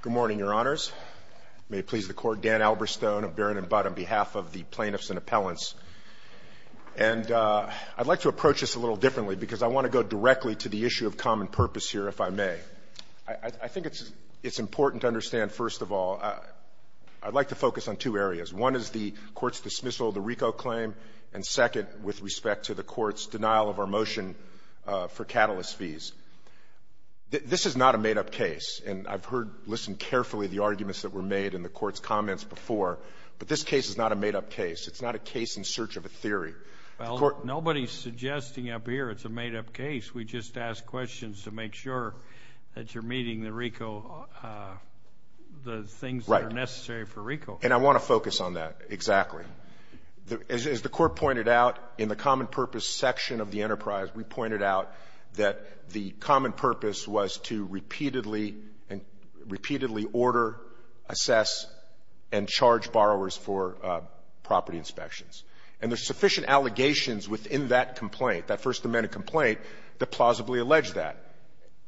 Good morning, Your Honors. May it please the Court, Dan Alberstone of Barron & Budd on behalf of the plaintiffs and appellants. And I'd like to approach this a little differently because I want to go directly to the issue of common purpose here, if I may. I think it's important to understand, first of all, I'd like to focus on two areas. One is the Court's dismissal of the RICO claim, and second, with respect to the Court's denial of our motion for catalyst fees. This is not a made-up case, and I've heard, listened carefully to the arguments that were made in the Court's comments before. But this case is not a made-up case. It's not a case in search of a theory. Well, nobody's suggesting up here it's a made-up case. We just ask questions to make sure that you're meeting the RICO, the things that are necessary for RICO. Right. And I want to focus on that, exactly. As the Court pointed out, in the common purpose section of the enterprise, we pointed out that the common purpose was to repeatedly, repeatedly order, assess, and charge borrowers for property inspections. And there's sufficient allegations within that complaint, that First Amendment complaint, that plausibly allege that.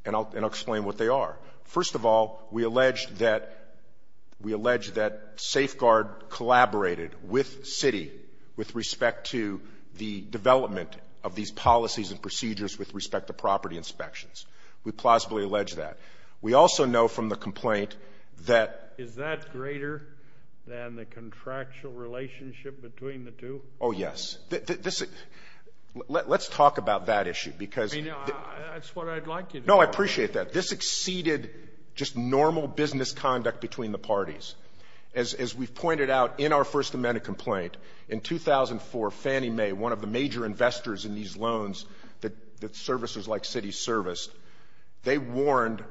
And I'll explain what they are. First of all, we allege that, we allege that Safeguard collaborated with Citi with respect to the development of these policies and procedures with respect to property inspections. We plausibly allege that. We also know from the complaint that Is that greater than the contractual relationship between the two? Oh, yes. This is, let's talk about that issue, because I mean, that's what I'd like you to do. No, I appreciate that. This exceeded just normal business conduct between the parties. As we've pointed out in our First Amendment complaint, in 2004, Fannie Mae, one of the major investors in these loans that services like Citi serviced, they warned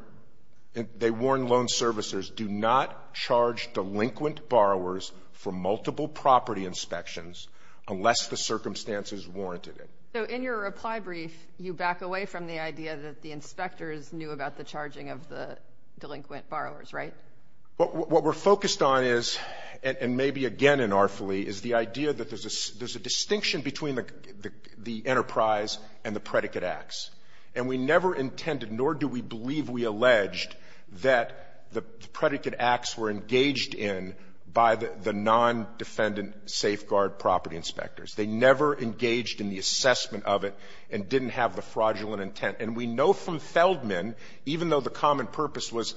loan servicers, do not charge delinquent borrowers for multiple property inspections unless the circumstances warranted it. So in your reply brief, you back away from the idea that the inspectors knew about the charging of the delinquent borrowers, right? What we're focused on is, and maybe again in RFLE, is the idea that there's a distinction between the enterprise and the predicate acts. And we never intended, nor do we believe we alleged, that the predicate acts were engaged in by the non-defendant They never engaged in the assessment of it and didn't have the fraudulent intent. And we know from Feldman, even though the common purpose was,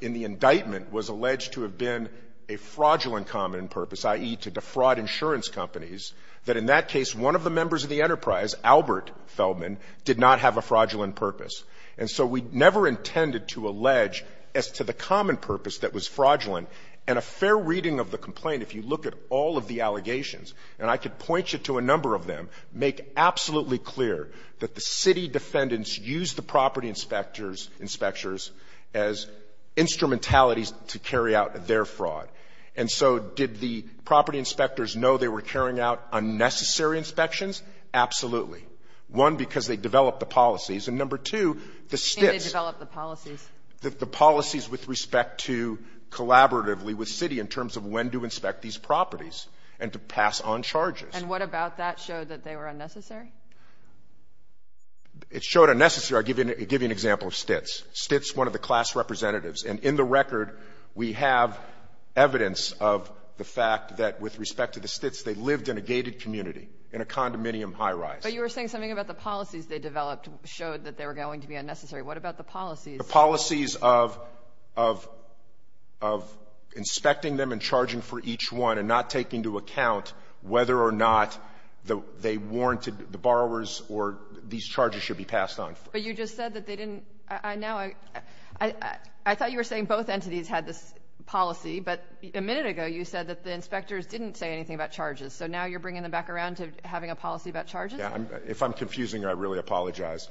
in the indictment, was alleged to have been a fraudulent common purpose, i.e., to defraud insurance companies, that in that case, one of the members of the enterprise, Albert Feldman, did not have a fraudulent purpose. And so we never intended to allege as to the common And I could point you to a number of them, make absolutely clear that the city defendants used the property inspectors as instrumentalities to carry out their fraud. And so did the property inspectors know they were carrying out unnecessary inspections? Absolutely. One, because they developed the policies. And, number two, the STITs the policies with respect to collaboratively with city in terms of when to inspect these properties and to pass on charges. And what about that showed that they were unnecessary? It showed unnecessary. I'll give you an example of STITs. STITs, one of the class representatives. And in the record, we have evidence of the fact that with respect to the STITs, they lived in a gated community, in a condominium high-rise. But you were saying something about the policies they developed showed that they were going to be unnecessary. What about the policies? The policies of inspecting them and charging for each one and not taking into account whether or not they warranted the borrowers or these charges should be passed on. But you just said that they didn't. I thought you were saying both entities had this policy, but a minute ago you said that the inspectors didn't say anything about charges. So now you're bringing them back around to having a policy about charges? Yeah. If I'm confusing you, I really apologize.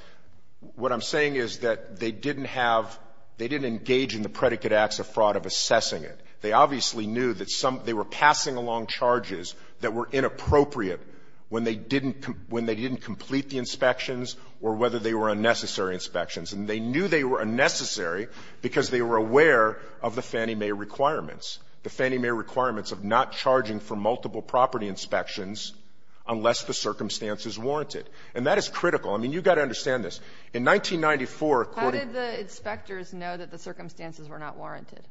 What I'm saying is that they didn't have they didn't engage in the predicate acts of fraud of assessing it. They obviously knew that some they were passing along charges that were inappropriate when they didn't when they didn't complete the inspections or whether they were unnecessary inspections. And they knew they were unnecessary because they were aware of the Fannie Mae requirements, the Fannie Mae requirements of not charging for multiple property inspections unless the circumstance is warranted. And that is critical. I mean, you've got to understand this. In 1994, according to the inspectors know that the circumstances were not warranted?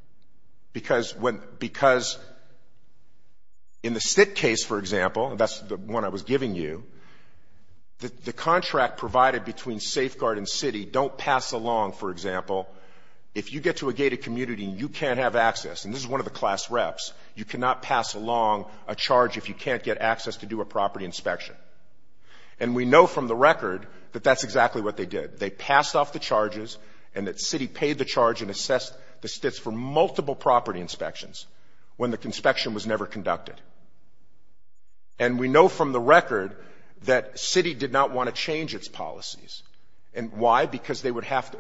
Because when because in the Stitt case, for example, and that's the one I was giving you, the contract provided between Safeguard and Citi don't pass along, for example, if you get to a gated community and you can't have access, and this is one of the property inspections. And we know from the record that that's exactly what they did. They passed off the charges and that Citi paid the charge and assessed the Stitts for multiple property inspections when the inspection was never conducted. And we know from the record that Citi did not want to change its policies. And why? Because they would have to.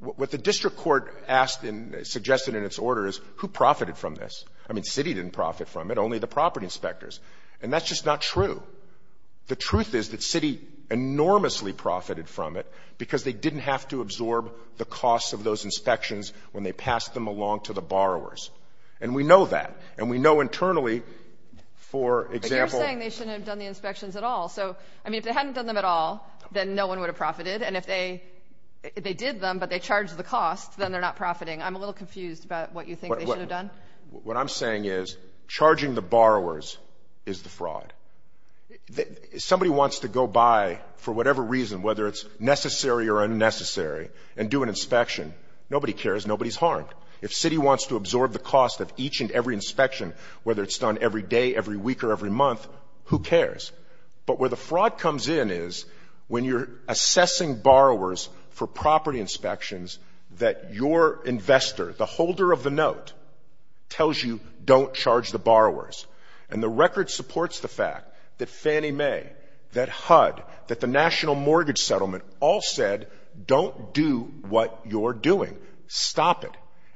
What the district court asked and suggested in its order is who profited from this? I mean, Citi didn't profit from it, only the property inspectors. And that's just not true. The truth is that Citi enormously profited from it because they didn't have to absorb the cost of those inspections when they passed them along to the borrowers. And we know that. And we know internally, for example — But you're saying they shouldn't have done the inspections at all. So, I mean, if they hadn't done them at all, then no one would have profited. And if they did them but they charged the cost, then they're not profiting. I'm a little confused about what you think they should have done. What I'm saying is charging the borrowers is the fraud. Somebody wants to go by, for whatever reason, whether it's necessary or unnecessary, and do an inspection. Nobody cares. Nobody's harmed. If Citi wants to absorb the cost of each and every inspection, whether it's done every day, every week, or every month, who cares? But where the fraud comes in is when you're assessing borrowers for property inspections, that your investor, the holder of the note, tells you, don't charge the borrowers. And the record supports the fact that Fannie Mae, that HUD, that the National Mortgage Settlement all said, don't do what you're doing. Stop it.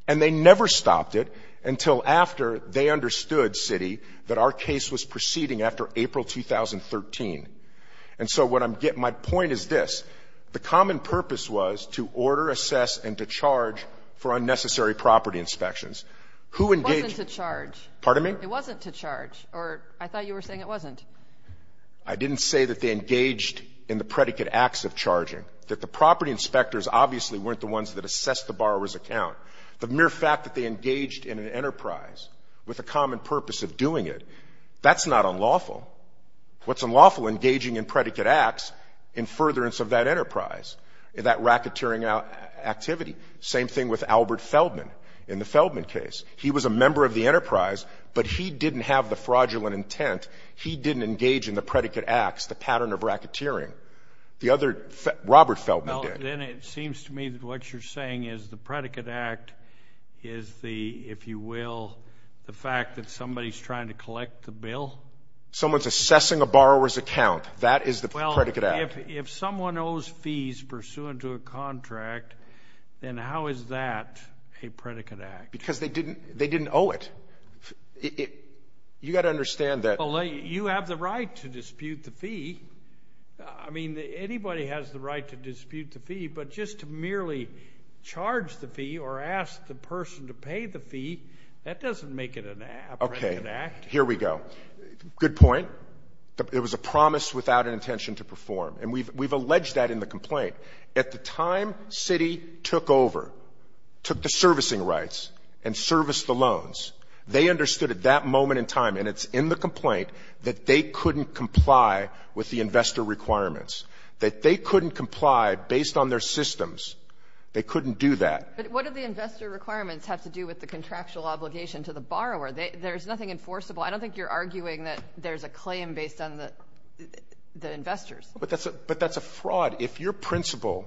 And they never stopped it until after they understood, Citi, that our case was proceeding after April 2013. And so what I'm getting — my point is this. The common purpose was to order, assess, and to charge for unnecessary property inspections. Who engaged — It wasn't to charge. Pardon me? It wasn't to charge. Or I thought you were saying it wasn't. I didn't say that they engaged in the predicate acts of charging. That the property inspectors obviously weren't the ones that assessed the borrower's account. The mere fact that they engaged in an enterprise with a common purpose of doing it, that's not unlawful. What's unlawful, engaging in predicate acts in furtherance of that enterprise. That racketeering activity. Same thing with Albert Feldman in the Feldman case. He was a member of the enterprise, but he didn't have the fraudulent intent. He didn't engage in the predicate acts, the pattern of racketeering. The other — Robert Feldman did. Well, then it seems to me that what you're saying is the predicate act is the, if you will, the fact that somebody's trying to collect the bill? Someone's assessing a borrower's account. That is the predicate act. If someone owes fees pursuant to a contract, then how is that a predicate act? Because they didn't owe it. You've got to understand that — Well, you have the right to dispute the fee. I mean, anybody has the right to dispute the fee, but just to merely charge the fee or ask the person to pay the fee, that doesn't make it a predicate act. Okay. Here we go. Good point. It was a promise without an intention to perform. And we've alleged that in the complaint. At the time Citi took over, took the servicing rights and serviced the loans, they understood at that moment in time, and it's in the complaint, that they couldn't comply with the investor requirements, that they couldn't comply based on their systems. They couldn't do that. But what do the investor requirements have to do with the contractual obligation to the borrower? There's nothing enforceable. I don't think you're arguing that there's a claim based on the investors. But that's a fraud. If your principal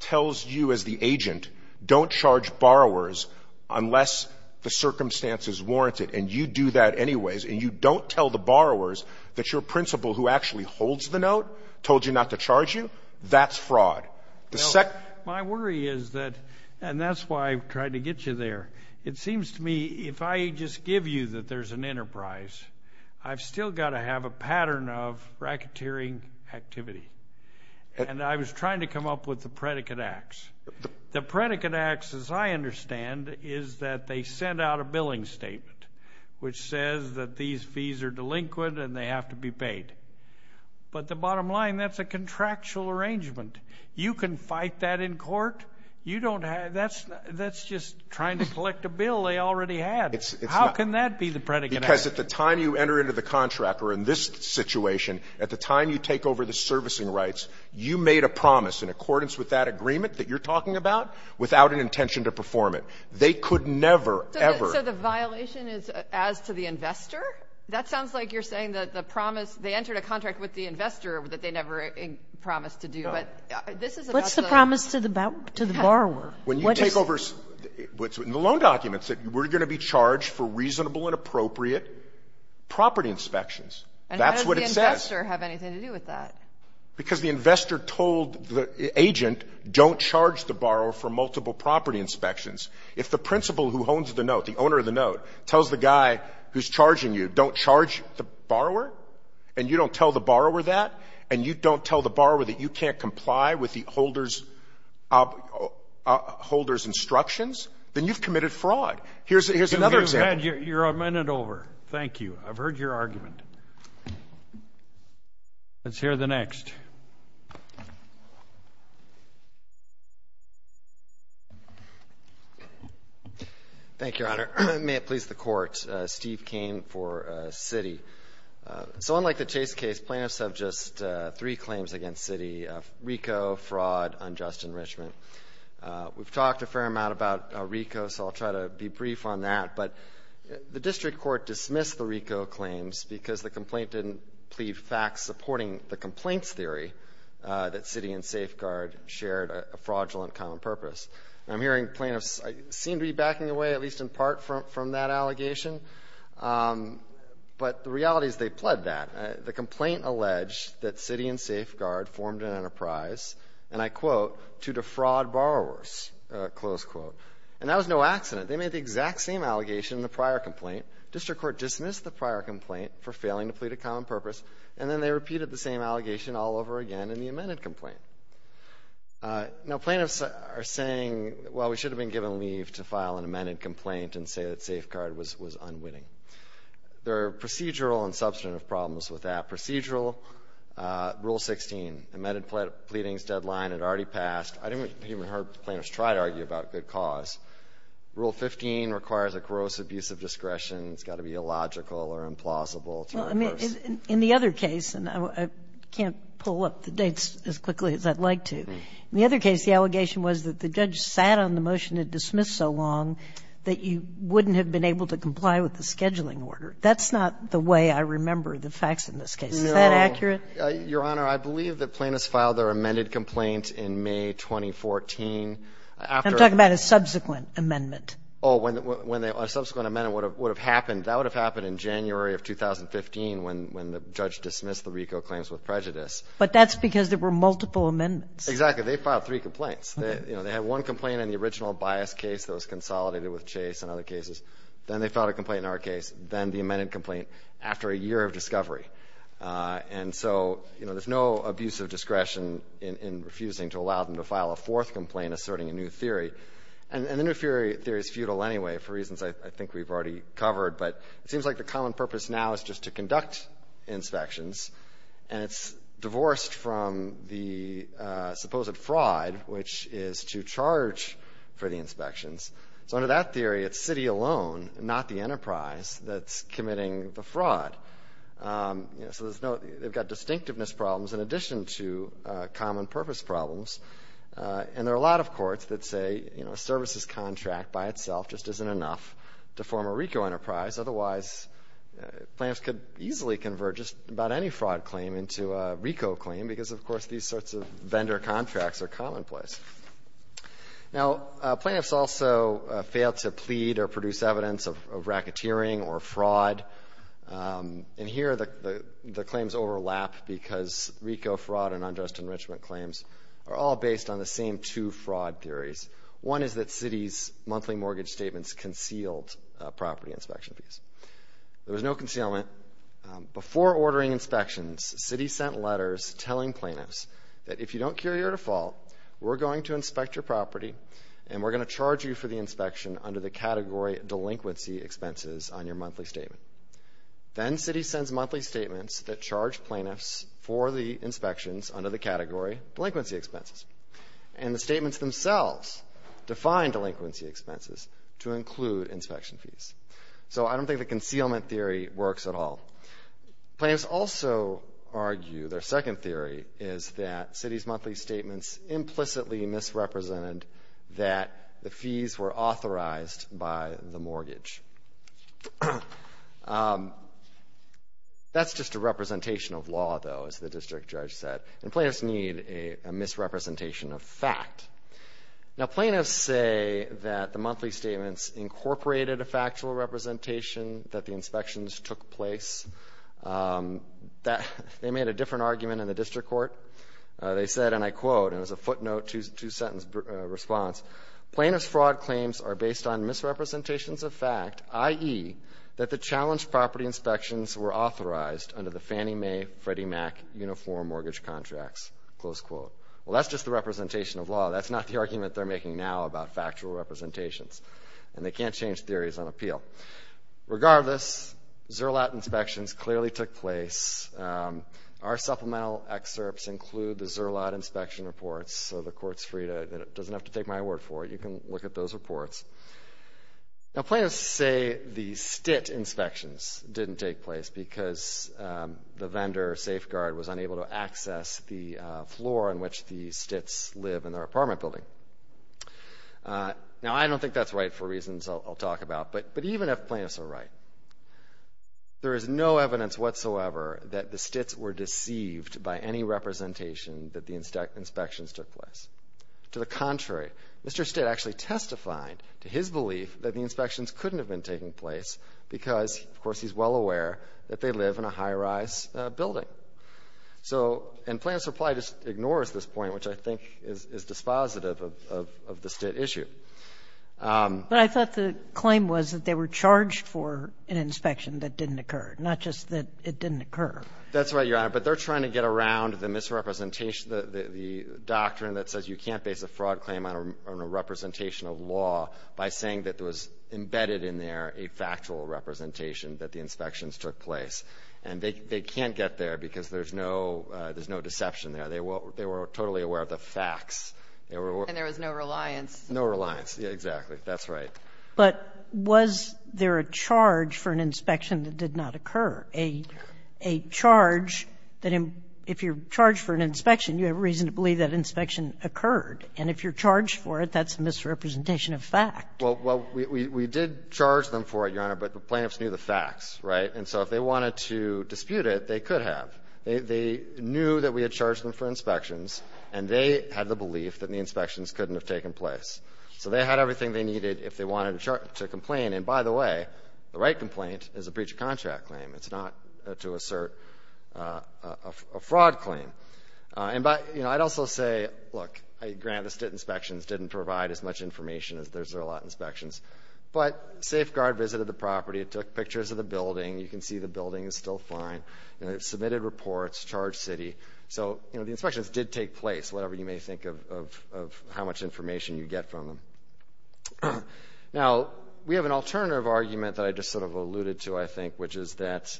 tells you as the agent, don't charge borrowers unless the circumstances warrant it, and you do that anyways, and you don't tell the borrowers that your principal, who actually holds the note, told you not to charge you, that's fraud. My worry is that — and that's why I've tried to get you there. It seems to me, if I just give you that there's an enterprise, I've still got to have a pattern of racketeering activity. And I was trying to come up with the predicate acts. The predicate acts, as I understand, is that they send out a billing statement, which says that these fees are delinquent and they have to be paid. But the bottom line, that's a contractual arrangement. You can fight that in court. You don't have — that's just trying to collect a bill they already had. How can that be the predicate act? Because at the time you enter into the contract, or in this situation, at the time you take over the servicing rights, you made a promise in accordance with that agreement that you're talking about without an intention to perform it. They could never, ever — So the violation is as to the investor? That sounds like you're saying that the promise — they entered a contract with the investor that they never promised to do. No. What's the promise to the borrower? When you take over — in the loan documents, that we're going to be charged for reasonable and appropriate property inspections. That's what it says. And how does the investor have anything to do with that? Because the investor told the agent, don't charge the borrower for multiple property inspections. If the principal who owns the note, the owner of the note, tells the guy who's charging you, don't charge the borrower, and you don't tell the borrower that, and you don't tell the borrower that you can't comply with the holder's instructions, then you've committed fraud. Here's another example. You're a minute over. Thank you. I've heard your argument. Let's hear the next. Thank you, Your Honor. May it please the Court. Steve Cain for Citi. So unlike the Chase case, plaintiffs have just three claims against Citi — RICO, fraud, unjust enrichment. We've talked a fair amount about RICO, so I'll try to be brief on that. But the district court dismissed the RICO claims because the complaint didn't plead facts supporting the complaints theory that Citi and Safeguard shared a fraudulent common purpose. I'm hearing plaintiffs seem to be backing away, at least in part, from that allegation. But the reality is they pled that. The complaint alleged that Citi and Safeguard formed an enterprise, and I quote, to defraud borrowers, close quote. And that was no accident. They made the exact same allegation in the prior complaint. District court dismissed the prior complaint for failing to plead a common purpose, and then they repeated the same allegation all over again in the amended complaint. Now plaintiffs are saying, well, we should have been given leave to file an amended complaint and say that Safeguard was unwitting. There are procedural and substantive problems with that. Procedural, Rule 16, amended pleadings deadline had already passed. I didn't even hear plaintiffs try to argue about good cause. Rule 15 requires a gross abuse of discretion. It's got to be illogical or implausible to reverse. In the other case, and I can't pull up the dates as quickly as I'd like to, in the other case the allegation was that the judge sat on the motion to dismiss so long that you wouldn't have been able to comply with the scheduling order. That's not the way I remember the facts in this case. Is that accurate? No. Your Honor, I believe that plaintiffs filed their amended complaint in May 2014. I'm talking about a subsequent amendment. Oh, a subsequent amendment would have happened. That would have happened in January of 2015 when the judge dismissed the RICO claims with prejudice. But that's because there were multiple amendments. They filed three complaints. They had one complaint in the original bias case that was consolidated with Chase and other cases. Then they filed a complaint in our case. Then the amended complaint after a year of discovery. And so there's no abuse of discretion in refusing to allow them to file a fourth complaint asserting a new theory. And the new theory is futile anyway for reasons I think we've already covered. But it seems like the common purpose now is just to conduct inspections. And it's divorced from the supposed fraud, which is to charge for the inspections. So under that theory, it's city alone, not the enterprise, that's committing the fraud. So there's no they've got distinctiveness problems in addition to common purpose problems. And there are a lot of courts that say, you know, a services contract by itself just isn't enough to form a RICO enterprise. Otherwise, plaintiffs could easily convert just about any fraud claim into a RICO claim because, of course, these sorts of vendor contracts are commonplace. Now, plaintiffs also fail to plead or produce evidence of racketeering or fraud. And here the claims overlap because RICO fraud and unjust enrichment claims are all based on the same two fraud theories. One is that city's monthly mortgage statements concealed property inspection fees. There was no concealment. Before ordering inspections, city sent letters telling plaintiffs that if you don't carry your default, we're going to inspect your property and we're going to charge you for the inspection under the category delinquency expenses on your monthly statement. Then city sends monthly statements that charge plaintiffs for the inspections under the category delinquency expenses. And the statements themselves define delinquency expenses to include inspection fees. So I don't think the concealment theory works at all. Plaintiffs also argue their second theory is that city's monthly statements implicitly misrepresented that the fees were authorized by the mortgage. That's just a representation of law, though, as the district judge said. And plaintiffs need a misrepresentation of fact. Now, plaintiffs say that the monthly statements incorporated a factual representation that the inspections took place. They made a different argument in the district court. They said, and I quote, and it's a footnote, two-sentence response, plaintiff's fraud claims are based on misrepresentations of fact, i.e., that the challenged property inspections were authorized under the Fannie Mae Freddie Mac Uniform Mortgage Contracts, close quote. Well, that's just the representation of law. That's not the argument they're making now about factual representations. And they can't change theories on appeal. Regardless, Zerlot inspections clearly took place. Our supplemental excerpts include the Zerlot inspection reports, so the court's free to, it doesn't have to take my word for it. You can look at those reports. Now, plaintiffs say the STIT inspections didn't take place because the vendor or safeguard was unable to access the floor on which the STITs live in their apartment building. Now, I don't think that's right for reasons I'll talk about. But even if plaintiffs are right, there is no evidence whatsoever that the STITs were deceived by any representation that the inspections took place. To the contrary, Mr. STIT actually testified to his belief that the inspections couldn't have been taking place because, of course, he's well aware that they live in a high-rise building. So and plaintiff's reply just ignores this point, which I think is dispositive of the STIT issue. But I thought the claim was that they were charged for an inspection that didn't occur, not just that it didn't occur. That's right, Your Honor. But they're trying to get around the misrepresentation, the doctrine that says you can't base a fraud claim on a representation of law by saying that there was embedded in there a factual representation that the inspections took place. And they can't get there because there's no deception there. They were totally aware of the facts. And there was no reliance. No reliance, exactly. That's right. But was there a charge for an inspection that did not occur? A charge that if you're charged for an inspection, you have reason to believe that an inspection occurred. And if you're charged for it, that's a misrepresentation of fact. Well, we did charge them for it, Your Honor, but the plaintiffs knew the facts. Right? And so if they wanted to dispute it, they could have. They knew that we had charged them for inspections, and they had the belief that the inspections couldn't have taken place. So they had everything they needed if they wanted to complain. And by the way, the right complaint is a breach of contract claim. It's not to assert a fraud claim. And by, you know, I'd also say, look, I grant that inspections didn't provide as much information as there's a lot of inspections. But safeguard visited the property. It took pictures of the building. You can see the building is still fine. And it submitted reports, charged city. So, you know, the inspections did take place, whatever you may think of how much information you get from them. Now, we have an alternative argument that I just sort of alluded to, I think, which is that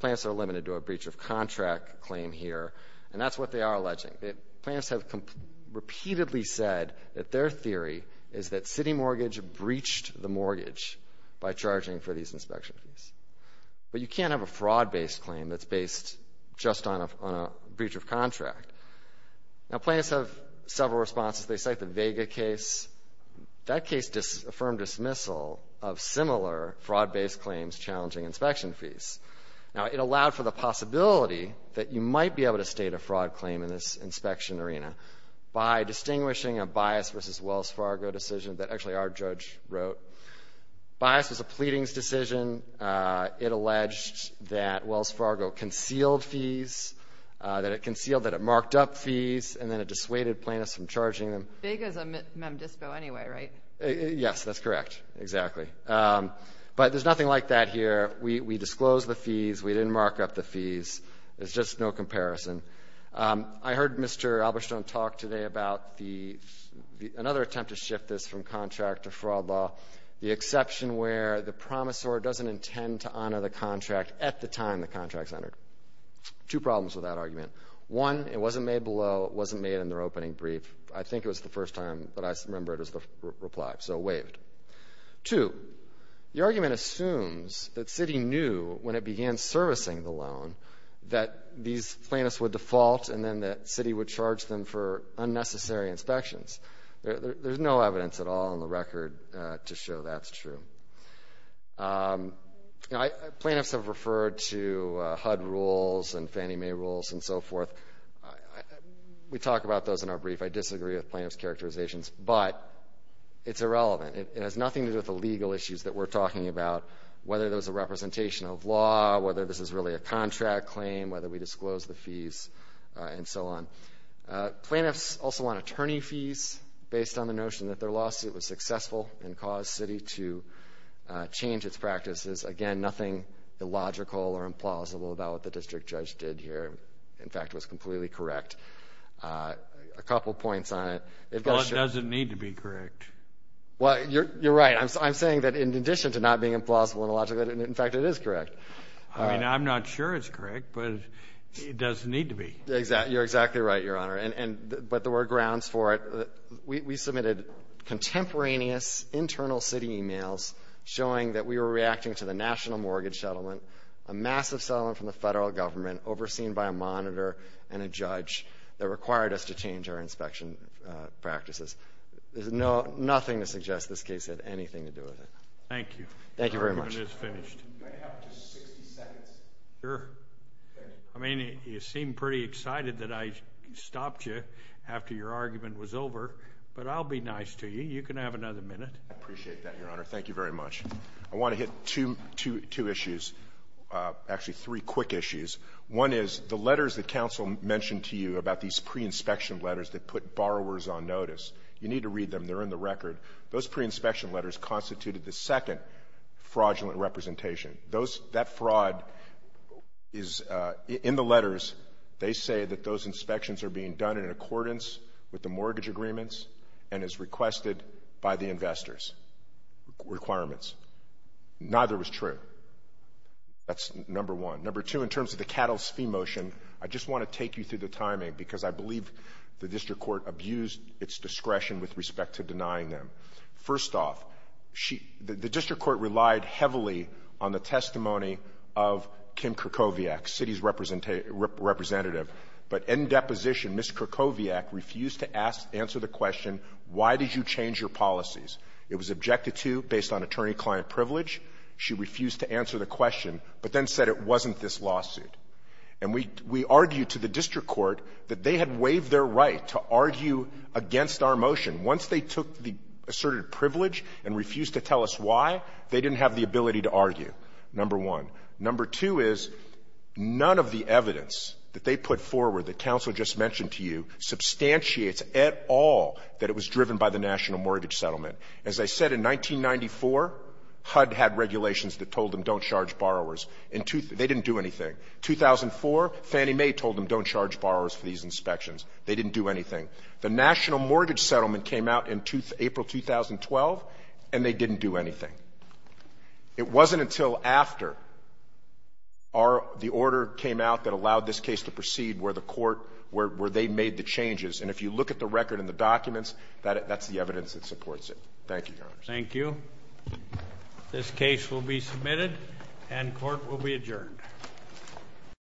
plaintiffs are limited to a breach of contract claim here, and that's what they are alleging. Plaintiffs have repeatedly said that their theory is that City Mortgage breached the mortgage by charging for these inspection fees. But you can't have a fraud-based claim that's based just on a breach of contract. Now, plaintiffs have several responses. They cite the Vega case. That case affirmed dismissal of similar fraud-based claims challenging inspection fees. Now, it allowed for the possibility that you might be able to state a fraud claim in this inspection arena by distinguishing a Bias v. Wells Fargo decision that actually our judge wrote. Bias was a pleadings decision. It alleged that Wells Fargo concealed fees, that it concealed that it marked up fees, and then it dissuaded plaintiffs from charging them. Vega is a MemDISPO anyway, right? Yes, that's correct, exactly. But there's nothing like that here. We disclosed the fees. We didn't mark up the fees. There's just no comparison. I heard Mr. Alberstone talk today about another attempt to shift this from contract to fraud law, the exception where the promisor doesn't intend to honor the contract at the time the contract is honored. Two problems with that argument. One, it wasn't made below, it wasn't made in their opening brief. I think it was the first time that I remember it was the reply, so it waived. Two, the argument assumes that Citi knew when it began servicing the loan that these plaintiffs would default and then that Citi would charge them for unnecessary inspections. There's no evidence at all in the record to show that's true. Plaintiffs have referred to HUD rules and Fannie Mae rules and so forth. We talk about those in our brief. I disagree with plaintiffs' characterizations, but it's irrelevant. It has nothing to do with the legal issues that we're talking about, whether there's a representation of law, whether this is really a contract claim, whether we disclose the fees, and so on. Plaintiffs also want attorney fees based on the notion that their lawsuit was successful and caused Citi to change its practices. Again, nothing illogical or implausible about what the district judge did here. In fact, it was completely correct. A couple points on it. Well, it doesn't need to be correct. Well, you're right. I'm saying that in addition to not being implausible and illogical, in fact, it is correct. I mean, I'm not sure it's correct, but it doesn't need to be. You're exactly right, Your Honor. But there were grounds for it. We submitted contemporaneous internal Citi emails showing that we were reacting to the national mortgage settlement, a massive settlement from the federal government overseen by a monitor and a judge that required us to change our inspection practices. There's nothing to suggest this case had anything to do with it. Thank you. Thank you very much. Your argument is finished. Can I have just 60 seconds? Sure. I mean, you seem pretty excited that I stopped you after your argument was over, but I'll be nice to you. You can have another minute. I appreciate that, Your Honor. Thank you very much. I want to hit two issues, actually three quick issues. One is the letters that counsel mentioned to you about these pre-inspection letters that put borrowers on notice. You need to read them. They're in the record. Those pre-inspection letters constituted the second fraudulent representation. That fraud is in the letters. They say that those inspections are being done in accordance with the mortgage agreements and as requested by the investors' requirements. Neither was true. That's number one. Number two, in terms of the cattle's fee motion, I just want to take you through the timing because I believe the district court abused its discretion with respect to denying them. First off, the district court relied heavily on the testimony of Kim Krakowiak, Citi's representative. But in deposition, Ms. Krakowiak refused to answer the question, why did you change your policies? It was objected to based on attorney-client privilege. She refused to answer the question, but then said it wasn't this lawsuit. And we argued to the district court that they had waived their right to argue against our motion. Once they took the asserted privilege and refused to tell us why, they didn't have the ability to argue, number one. Number two is, none of the evidence that they put forward that counsel just mentioned to you substantiates at all that it was driven by the National Mortgage Settlement. As I said, in 1994, HUD had regulations that told them don't charge borrowers. They didn't do anything. In 2004, Fannie Mae told them don't charge borrowers for these inspections. They didn't do anything. The National Mortgage Settlement came out in April 2012, and they didn't do anything. It wasn't until after the order came out that allowed this case to proceed where the court, where they made the changes. And if you look at the record and the documents, that's the evidence that supports it. Thank you, Your Honor. Thank you. This case will be submitted, and court will be adjourned.